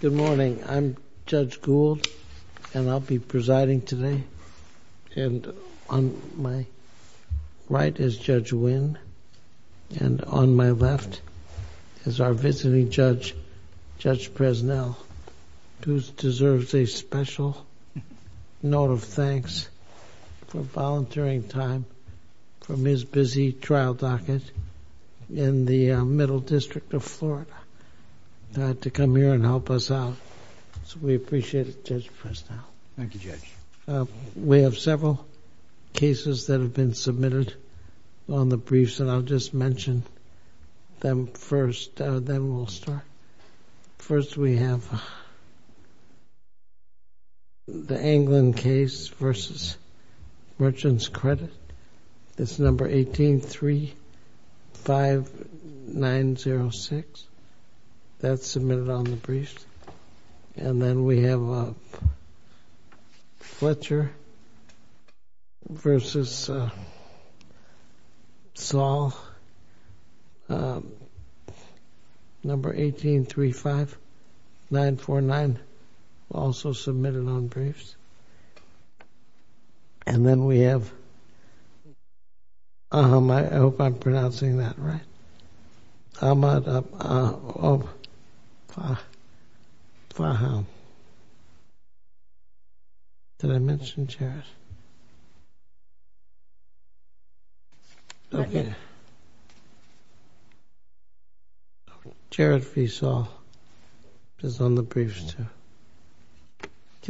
Good morning. I'm Judge Gould, and I'll be presiding today. On my right is Judge Wynn, and on my left is our visiting judge, Judge Presnell, who deserves a special note of thanks for volunteering time from his busy trial docket in the Middle District of Florida to come here and help us out. So we appreciate it, Judge Presnell. Thank you, Judge. We have several cases that have been submitted on the briefs, and I'll just mention them first, then we'll start. First, we have the Anglin case v. Merchant's Credit. It's No. 18-35906. That's submitted on the briefs. And then we have Fletcher v. Saul, No. 18-35949, also submitted on briefs. And then we have Aham. I hope I'm pronouncing that right. Aham. Did I mention Jarrett? Okay. Jarrett v. Saul is on the briefs, too.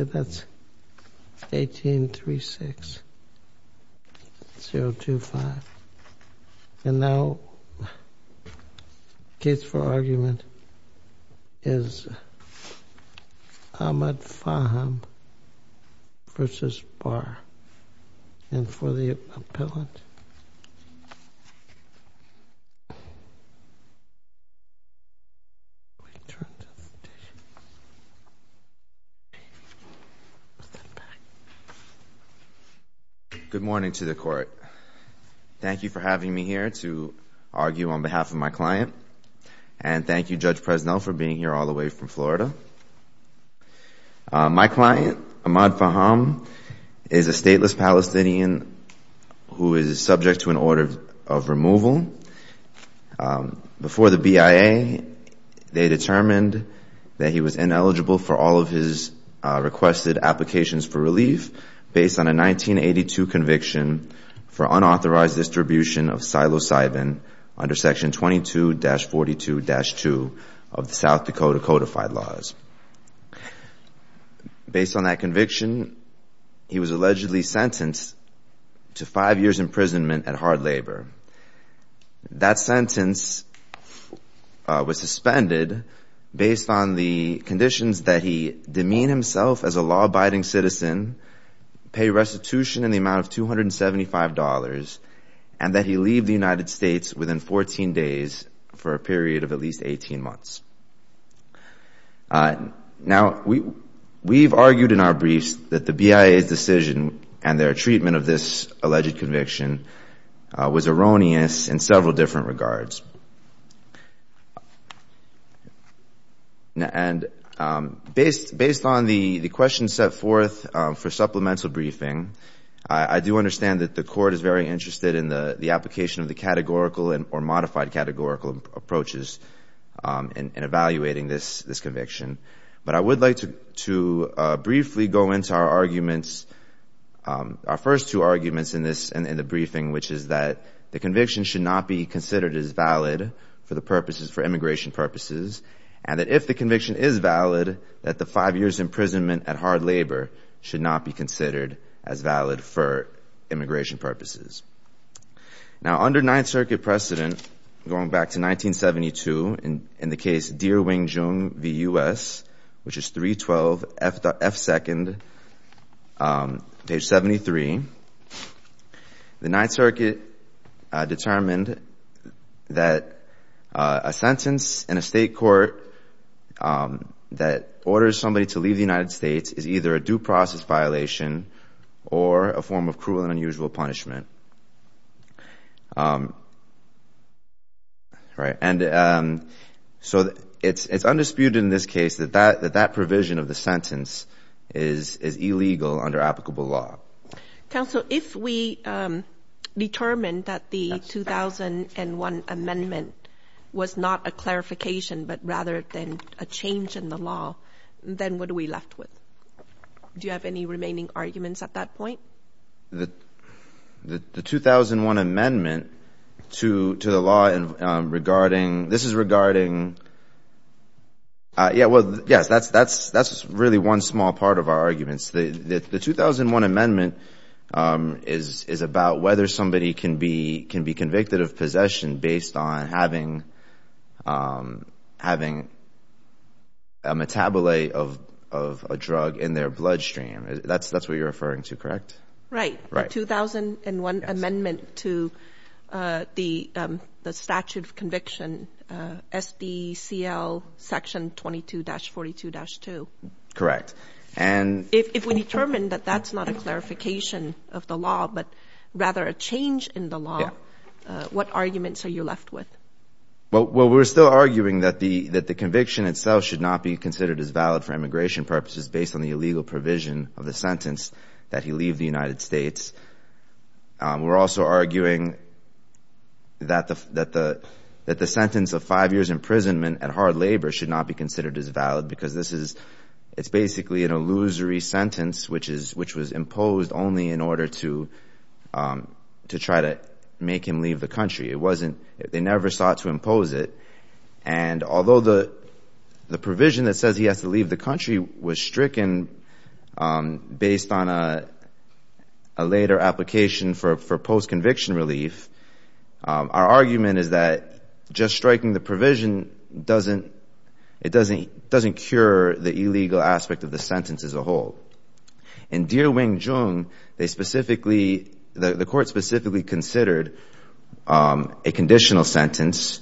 Okay, that's 18-36025. And now the case for argument is Ahmad Faham v. Barr. And for the appellant... Good morning to the Court. Thank you for having me here to argue on behalf of my client. And thank you, Judge Presnell, for being here all the way from Florida. My client, Ahmad Faham, is a stateless Palestinian who is subject to an order of removal. Before the BIA, they determined that he was ineligible for all of his requested applications for relief based on a 1982 conviction for unauthorized distribution of psilocybin under Section 22-42-2 of the South Dakota codified laws. Based on that conviction, he was allegedly sentenced to five years' imprisonment at hard labor. That sentence was suspended based on the conditions that he demean himself as a law-abiding citizen, pay restitution in the amount of $275, and that he leave the United States within 14 days for a period of at least 18 months. Now, we've argued in our briefs that the BIA's decision and their treatment of this alleged conviction was erroneous in several different regards. And based on the questions set forth for supplemental briefing, I do understand that the Court is very interested in the application of the categorical or modified categorical approaches in evaluating this conviction. But I would like to briefly go into our arguments, our first two arguments in the briefing, which is that the conviction should not be considered as valid for immigration purposes, and that if the conviction is valid, that the five years' imprisonment at hard labor should not be considered as valid for immigration purposes. Now, under Ninth Circuit precedent, going back to 1972, in the case Deer Wing Jung v. U.S., which is 312 F. 2nd, page 73, the Ninth Circuit determined that a sentence in a state court that orders somebody to leave the United States is either a due process violation or a form of cruel and unusual punishment. And so it's undisputed in this case that that provision of the sentence is illegal under applicable law. Counsel, if we determined that the 2001 amendment was not a clarification, but rather than a change in the law, then what are we left with? Do you have any remaining arguments at that point? The 2001 amendment to the law regarding, this is regarding, yeah, well, yes, that's really one small part of our arguments. The 2001 amendment is about whether somebody can be convicted of possession based on having a metabolism, a metabolism of a drug in their bloodstream. That's what you're referring to, correct? Right. The 2001 amendment to the statute of conviction, S.D.C.L. section 22-42-2. Correct. And if we determine that that's not a clarification of the law, but rather a change in the law, what arguments are you left with? Well, we're still arguing that the conviction itself should not be considered as valid for immigration purposes based on the illegal provision of the sentence that he leave the United States. We're also arguing that the sentence of five years' imprisonment at hard labor should not be considered as valid, because this is, it's basically an illusory sentence, which was imposed only in order to try to make him leave the country. It wasn't, they never sought to impose it. And although the provision that says he has to leave the country was stricken based on a later application for post-conviction relief, our argument is that just striking the provision doesn't, it doesn't cure the illegal aspect of the sentence as a whole. In Deer Wing Chung, they specifically, the court specifically considered a conditional sentence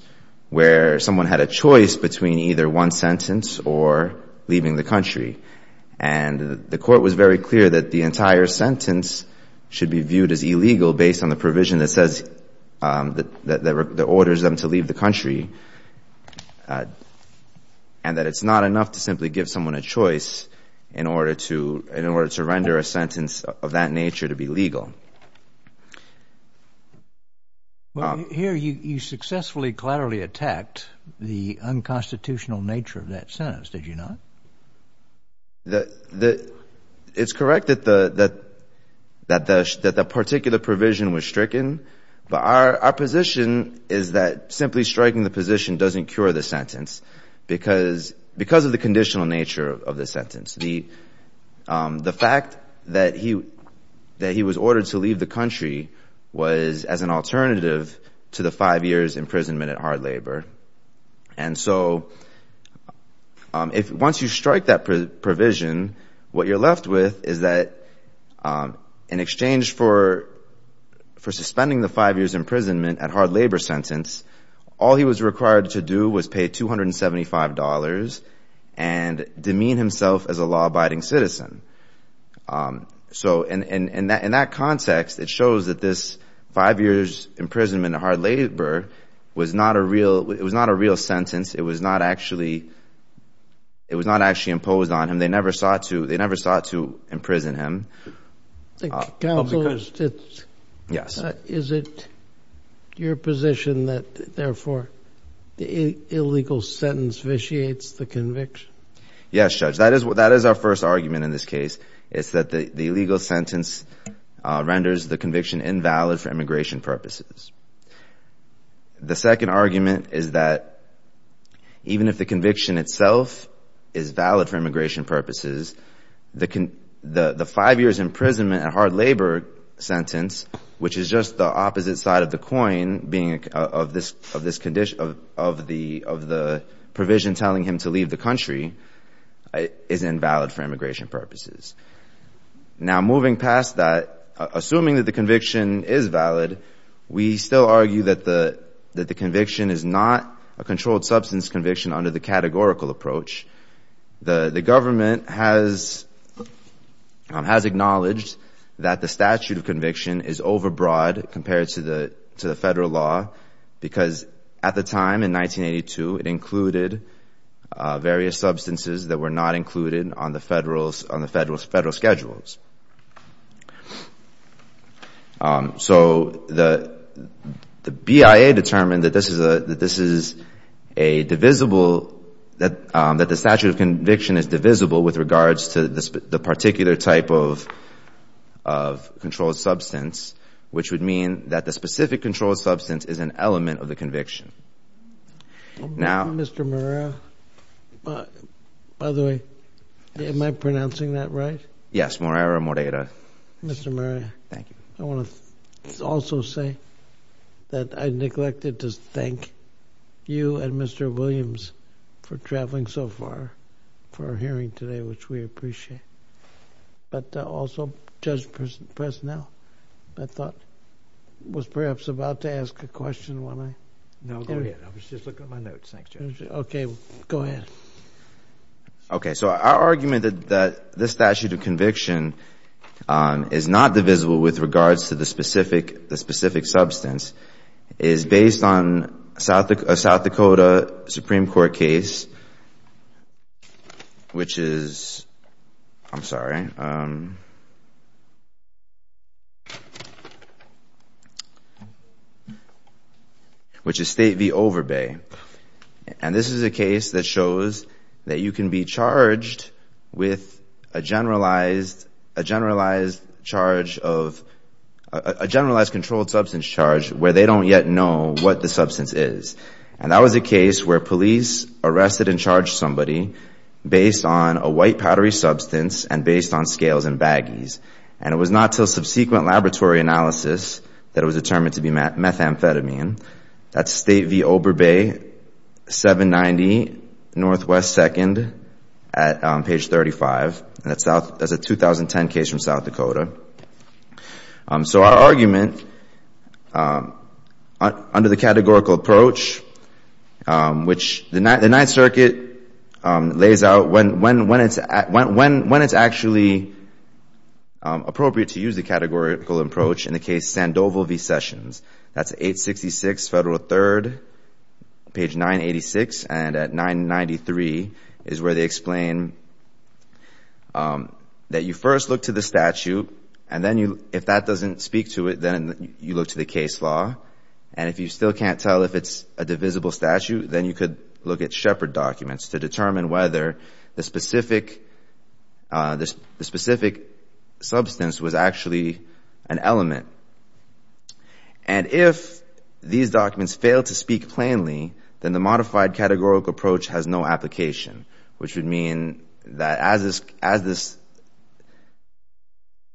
where someone had a choice between either one sentence or leaving the country. And the court was very clear that the entire sentence should be viewed as illegal based on the provision that says, that orders them to leave the country, and that it's not enough to simply give someone a choice in order to leave the country. It's not enough to, in order to render a sentence of that nature to be legal. Here you successfully, clearly attacked the unconstitutional nature of that sentence, did you not? It's correct that the particular provision was stricken, but our position is that simply striking the position doesn't cure the sentence, because of the conditional nature of the sentence. The fact that he, that he was ordered to leave the country was as an alternative to the five years imprisonment at hard labor. And so if, once you strike that provision, what you're left with is that in exchange for, for suspending the five years imprisonment at hard labor sentence, all he was required to do was pay $275 and demean himself as a law-abiding citizen. So in, in, in that, in that context, it shows that this five years imprisonment at hard labor was not a real, it was not a real sentence. It was not actually, it was not actually imposed on him. They never sought to, they never sought to imprison him. The counsel is, is it your position that therefore the illegal sentence vitiates the conviction? Yes, Judge. That is what, that is our first argument in this case, is that the, the illegal sentence renders the conviction invalid for immigration purposes. The second argument is that even if the conviction itself is valid for immigration purposes, the, the, the five years imprisonment at hard labor sentence, which is just the opposite side of the coin, being of this, of this condition, of, of the, of the provision telling him to leave the country, is invalid for immigration purposes. Now, moving past that, assuming that the conviction is valid, we still argue that the, that the conviction is not a controlled substance conviction under the categorical approach. The, the government has, has acknowledged that the statute of conviction is overbroad compared to the, to the Federal law because at the time, in 1982, it included various substances that were not included on the Federal, on the Federal, Federal schedules. So the, the BIA determined that this is a, that this is a divisible, that, that the statute of conviction is divisible with regards to the, the particular type of, of controlled substance, which would mean that the specific controlled substance is an element of the conviction. Now, Mr. Morera, by the way, am I pronouncing that right? Yes. Morera, Morera. Mr. Morera. Thank you. I want to also say that I neglected to thank you and Mr. Williams for traveling so far for hearing today, which we appreciate. But also, Judge Presnell, I thought, was perhaps about to ask a question when I... No, go ahead. I was just looking at my notes. Thanks, Judge. Okay. Go ahead. Okay. So our argument that, that this statute of conviction is not divisible with regards to the specific, the specific substance is based on South, a South Dakota Supreme Court case, which is, I'm sorry, which is State v. Overbay. And this is a case that shows that you can be charged with a generalized, a generalized charge of, a generalized controlled substance charge where they don't yet know what the substance is. And that was a case where police arrested and charged somebody based on a white powdery substance and based on scales and baggies. And it was not until subsequent laboratory analysis that it was determined to be methamphetamine. That's State v. Overbay, 790 Northwest 2nd at page 35. That's a 2010 case from South Dakota. So our argument under the categorical approach, which the Ninth Circuit lays out when, when, when it's, when, when it's actually appropriate to use the categorical approach in the case Sandoval v. Sessions. That's 866 Federal 3rd, page 986. And at 993 is where they explain that you first look to the statute and then you, if that doesn't speak to it, then you look to the case law. And if you still can't tell if it's a divisible statute, then you could look at Shepherd documents to determine whether the specific, the specific substance was actually an element. And if these documents fail to speak plainly, then the modified categorical approach has no application, which would mean that as this, as this,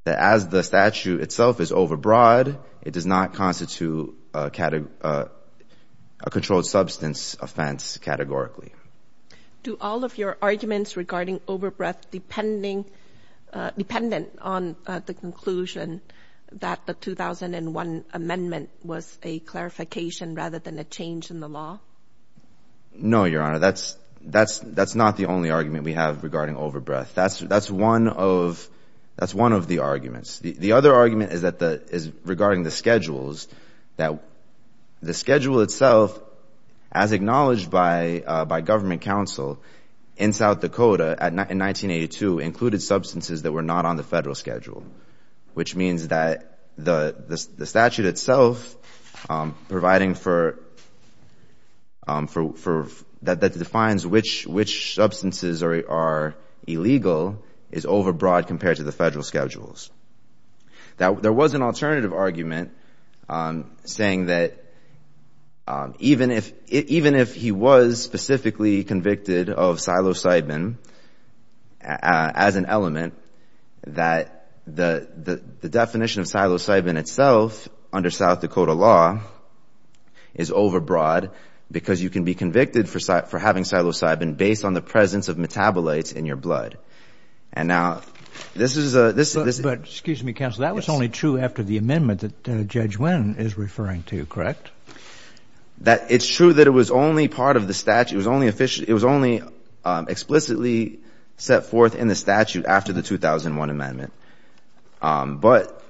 that as the statute itself is overbroad, it does not constitute a controlled substance offense categorically. Do all of your arguments regarding overbreath depending, dependent on the conclusion that the 2001 amendment was a clarification rather than a change in the law? No, Your Honor. That's, that's, that's not the only argument we have regarding overbreath. That's, that's one of, that's one of the arguments. The other argument is that the, is regarding the schedules, that the schedule itself, as acknowledged by, by government counsel in South Dakota in 1982 included substances that were not on the federal schedule, which means that the, the statute itself providing for, for, for, that defines which, which substances are illegal is overbroad compared to the federal schedules. Now, there was an alternative argument saying that even if, even if he was specifically convicted of psilocybin as an element, that the, the definition of psilocybin itself under South Dakota law is overbroad because you can be convicted for, for having psilocybin based on the presence of metabolites in your blood. And now, this is a, this is a... But, excuse me, counsel, that was only true after the amendment that Judge Wynn is referring to, correct? That, it's true that it was only part of the statute, it was only officially, it was only explicitly set forth in the statute after the 2001 amendment. But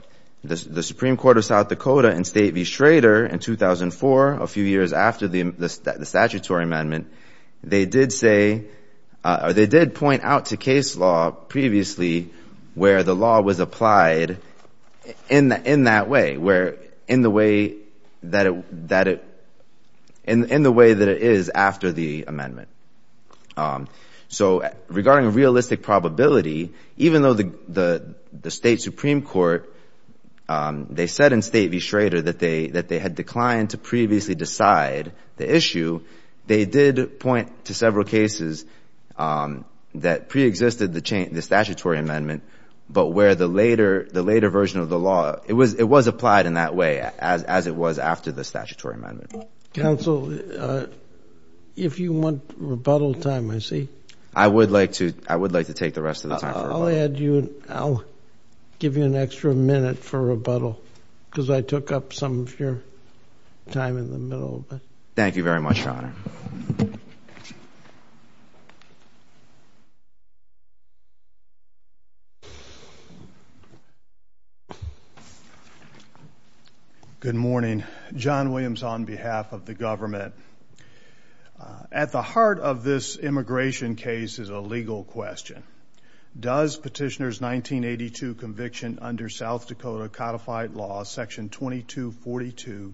the, the Supreme Court of South Dakota in State v. Schrader in 2004, a few years after the, the statutory amendment, they did say, or they did point out to case law previously where the law was applied in, in that way, where, in the way that it, that it, in, in the way that it is after the amendment. So, regarding realistic probability, even though the, the State Supreme Court, they said in State v. Schrader that they, that they had declined to previously decide the issue, they did point to several cases that preexisted the statutory amendment, but where the later, the later version of the law, it was, it was applied in that way as, as it was after the statutory amendment. Counsel, if you want rebuttal time, I see. I would like to, I would like to take the rest of the time. I'll add you, I'll give you an extra minute for rebuttal, because I took up some of your time in the middle, but. Good morning. John Williams on behalf of the government. At the heart of this immigration case is a legal question. Does petitioner's 1982 conviction under South Dakota codified law, section 2242-2,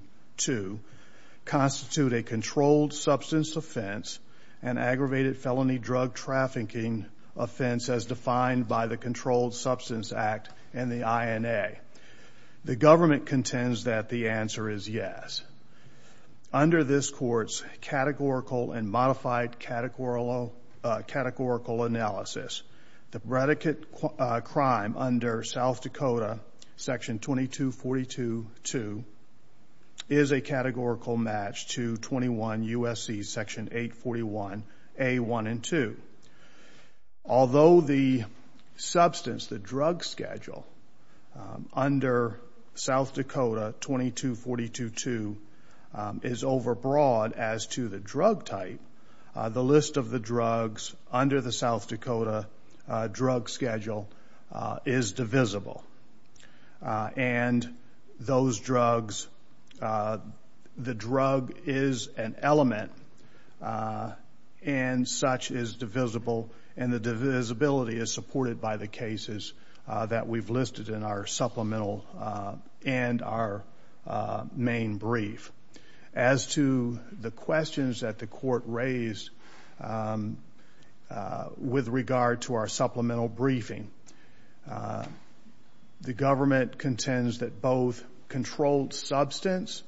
constitute a controlled substance offense, an aggravated felony drug trafficking offense as defined by the Controlled Substance Act and the INA? The government contends that the answer is yes. Under this court's categorical and modified categorical analysis, the predicate crime under South Dakota section 2242-2 is a categorical match to 21 U.S.C. section 841 A1 and 2. Although the substance, the drug schedule under South Dakota 2242-2 is overbroad as to the drug type, the list of the drugs under the South Dakota drug schedule is divisible. And those drugs, the drug is an element and such is divisible and the divisibility is supported by the cases that we've listed in our supplemental and our main brief. As to the questions that the court raised with regard to our supplemental briefing, the government contends that both controlled substance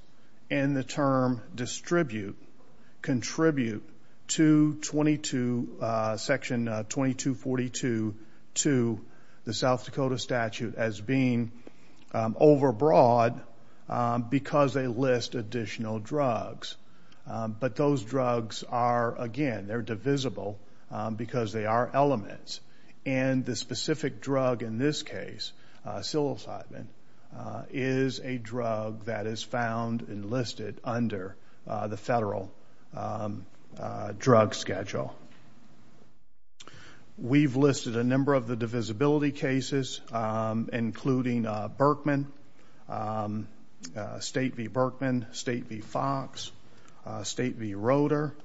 and the term distribute contribute to 22, section 2242-2, the South Dakota statute, as being overbroad because they list additional drugs. But those drugs are, again, they're divisible because they are elements. And the specific drug in this case, psilocybin, is a drug that is found and listed under the federal drug schedule. We've listed a number of the divisibility cases, including Berkman, State v. Berkman, State v. Fox, State v. Roeder,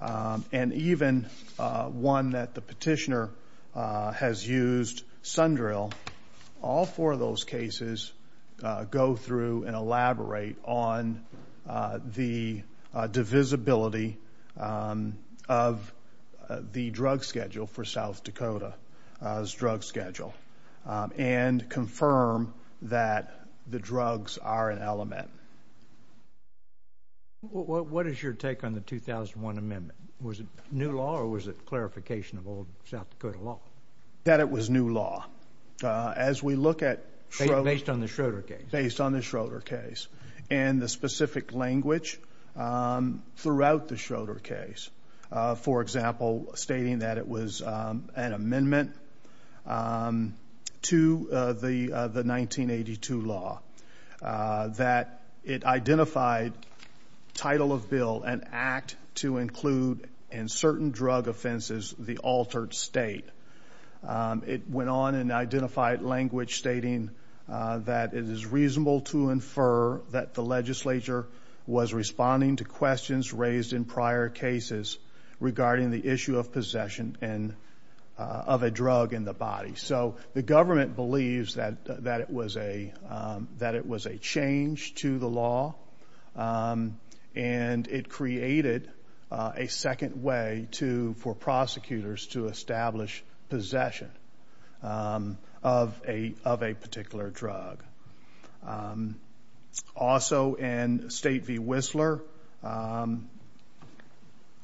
and even one that the petitioner has used, Sundrill. All four of those cases go through and elaborate on the divisibility of the drug schedule for South Dakota's drug schedule and confirm that the drugs are an element. What is your take on the 2001 amendment? Was it new law or was it clarification of old South Dakota law? That it was new law. As we look at... Based on the Schroeder case. Based on the Schroeder case. And the specific language throughout the Schroeder case. For example, stating that it was an amendment to the 1982 law. That it identified title of bill and act to include in certain drug offenses the altered state. It went on and identified language stating that it is reasonable to infer that the legislature was responding to questions raised in prior cases regarding the issue of possession of a drug in the body. So the government believes that it was a change to the law and it created a second way for prosecutors to establish possession of a particular drug. Also in State v. Whistler,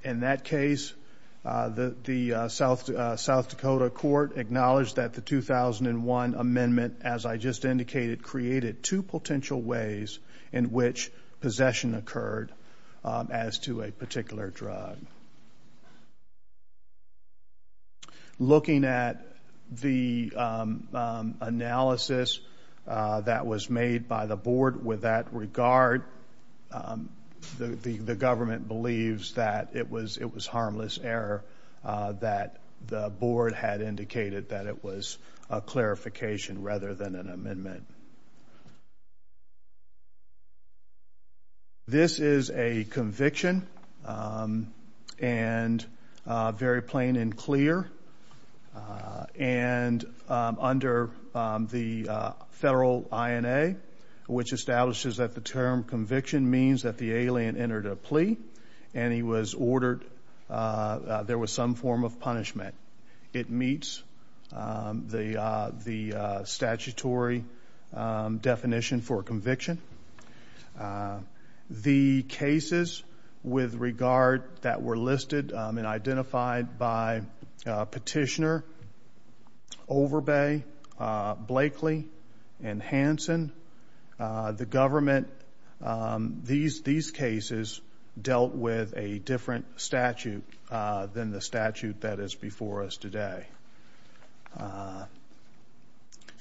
in that case, the South Dakota court acknowledged that the 2001 amendment, as I just indicated, created two potential ways in which possession occurred as to a particular drug. Looking at the analysis that was made by the board with that regard, the government believes that it was harmless error that the board had indicated that it was a clarification rather than an amendment. This is a conviction and very plain and clear. And under the federal INA, which establishes that the term conviction means that the alien entered a plea and he was ordered... There was some form of punishment. It meets the statutory definition for conviction. The cases with regard that were listed and identified by Petitioner, Overbay, Blakely, and Hanson, the government...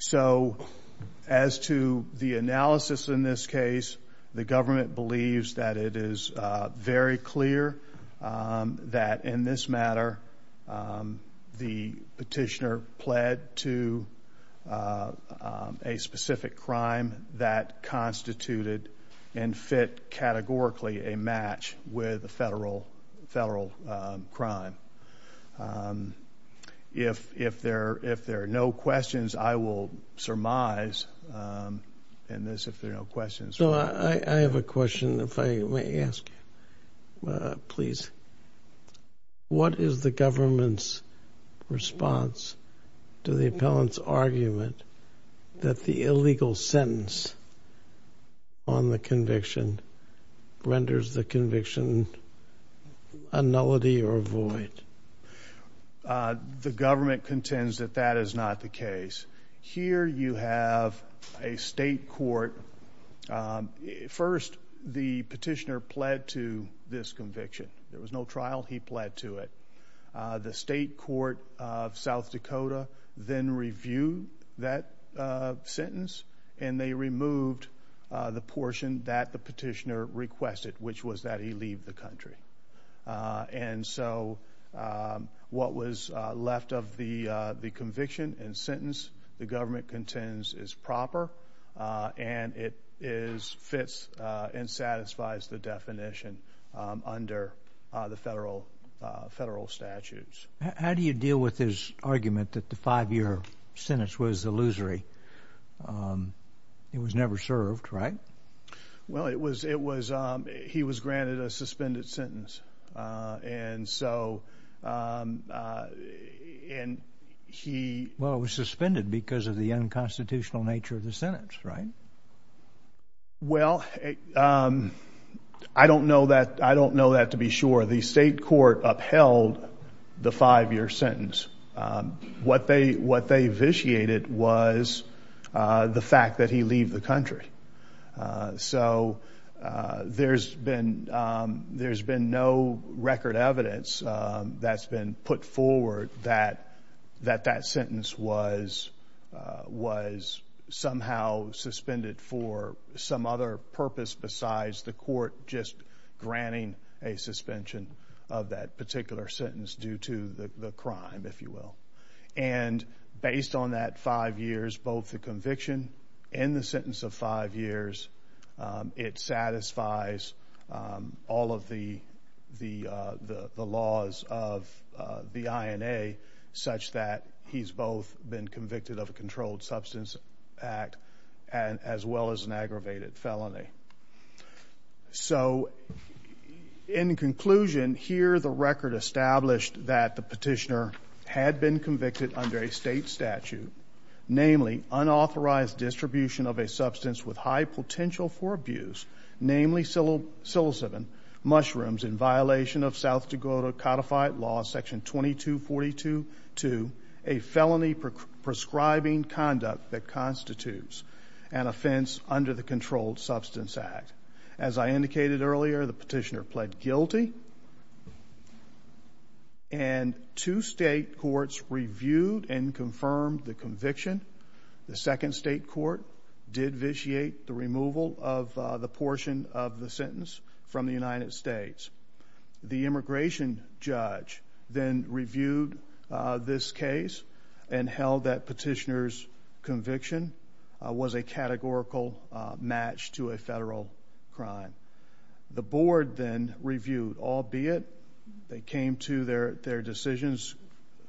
So as to the analysis in this case, the government believes that it is very clear that in this matter the Petitioner pled to a specific crime that constituted and fit categorically a match with a federal crime. If there are no questions, I will surmise in this if there are no questions. So I have a question if I may ask, please. What is the government's response to the appellant's argument that the illegal sentence on the conviction renders the conviction a nullity or a void? The government contends that that is not the case. Here you have a state court. First, the Petitioner pled to this conviction. There was no trial. He pled to it. The state court of South Dakota then reviewed that sentence, and they removed the portion that the Petitioner requested, which was that he leave the country. And so what was left of the conviction and sentence the government contends is proper, and it fits and satisfies the definition under the federal statutes. How do you deal with his argument that the five-year sentence was illusory? It was never served, right? Well, it was he was granted a suspended sentence, and so he Well, it was suspended because of the unconstitutional nature of the sentence, right? Well, I don't know that. I don't know that to be sure. The state court upheld the five-year sentence. What they vitiated was the fact that he leave the country, so there's been no record evidence that's been put forward that that sentence was somehow suspended for some other purpose besides the court just granting a suspension of that particular sentence due to the crime. And based on that five years, both the conviction and the sentence of five years, it satisfies all of the laws of the INA such that he's both been convicted of a controlled substance act as well as an aggravated felony. So in conclusion, here the record established that the petitioner had been convicted under a state statute, namely unauthorized distribution of a substance with high potential for abuse, As I indicated earlier, the petitioner pled guilty, and two state courts reviewed and confirmed the conviction. The second state court did vitiate the removal of the portion of the sentence from the United States. The immigration judge then reviewed this case and held that petitioner's conviction was a categorical match to a federal crime. The board then reviewed, albeit they came to their decisions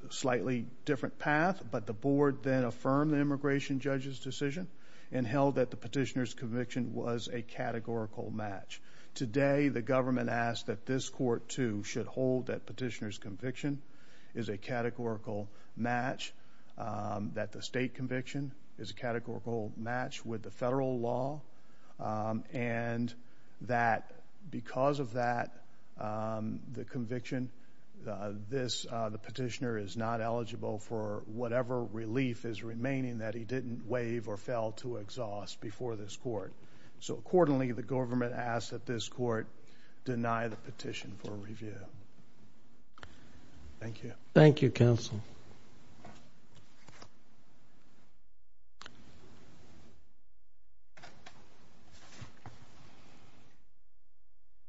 slightly different path, but the board then affirmed the immigration judge's decision and held that the petitioner's conviction was a categorical match. Today, the government asked that this court, too, should hold that petitioner's conviction is a categorical match, that the state conviction is a categorical match with the federal law, and that because of that conviction, the petitioner is not eligible for whatever relief is remaining that he didn't waive or fail to exhaust before this court. So accordingly, the government asked that this court deny the petition for review. Thank you. Thank you, counsel.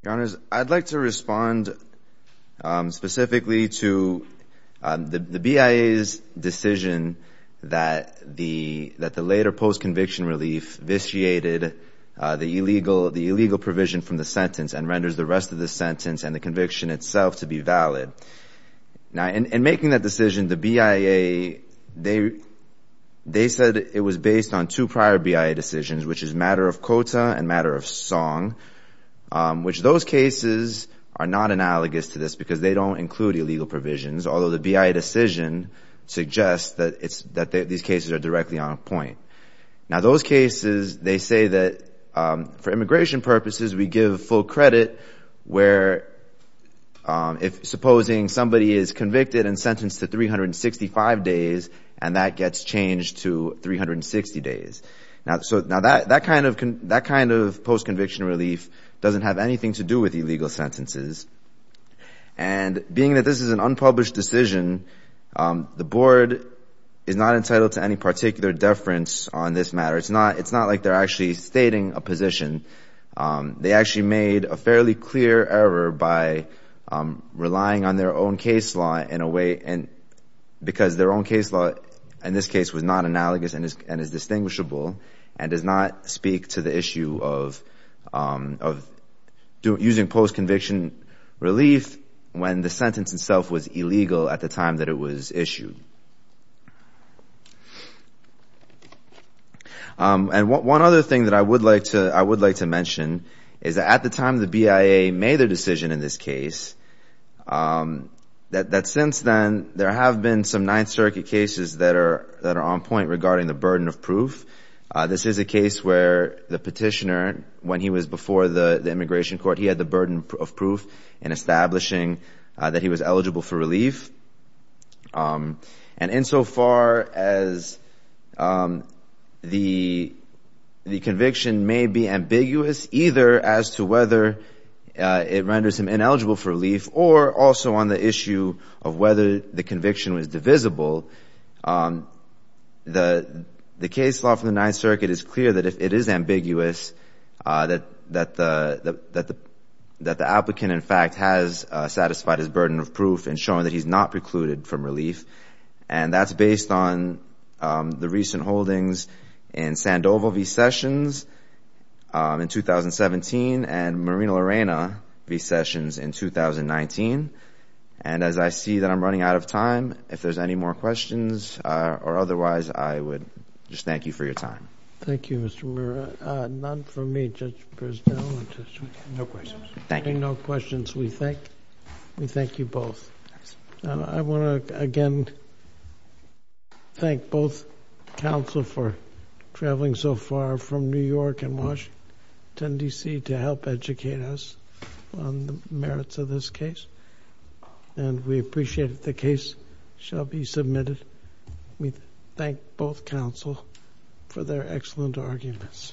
Your Honors, I'd like to respond specifically to the BIA's decision that the later post-conviction relief vitiated the illegal provision from the sentence and renders the rest of the sentence and the conviction itself to be valid. Now, in making that decision, the BIA, they said it was based on two prior BIA decisions, which is matter of quota and matter of song, which those cases are not analogous to this because they don't include illegal provisions, although the BIA decision suggests that these cases are directly on point. Now, those cases, they say that for immigration purposes, we give full credit where if supposing somebody is convicted and sentenced to 365 days and that gets changed to 360 days. Now, that kind of post-conviction relief doesn't have anything to do with illegal sentences. And being that this is an unpublished decision, the board is not entitled to any particular deference on this matter. It's not like they're actually stating a position. They actually made a fairly clear error by relying on their own case law in a way because their own case law in this case was not analogous and is distinguishable and does not speak to the issue of using post-conviction relief when the sentence itself was illegal at the time that it was issued. And one other thing that I would like to mention is that at the time the BIA made their decision in this case, that since then, there have been some Ninth Circuit cases that are on point regarding the burden of proof. This is a case where the petitioner, when he was before the immigration court, he had the burden of proof in establishing that he was eligible for relief. And insofar as the conviction may be ambiguous either as to whether it renders him ineligible for relief or also on the issue of whether the conviction was divisible, the case law from the Ninth Circuit is clear that if it is ambiguous, that the applicant, in fact, has satisfied his burden of proof in showing that he's not precluded from relief. And that's based on the recent holdings in Sandoval v. Sessions in 2017 and Marina Lorena v. Sessions in 2019. And as I see that I'm running out of time, if there's any more questions or otherwise, I would just thank you for your time. Thank you, Mr. Murra. None from me, Judge Brizdo. No questions. Hearing no questions, we thank you both. I want to again thank both counsel for traveling so far from New York and Washington, D.C. to help educate us on the merits of this case. And we appreciate that the case shall be submitted. We thank both counsel for their excellent arguments.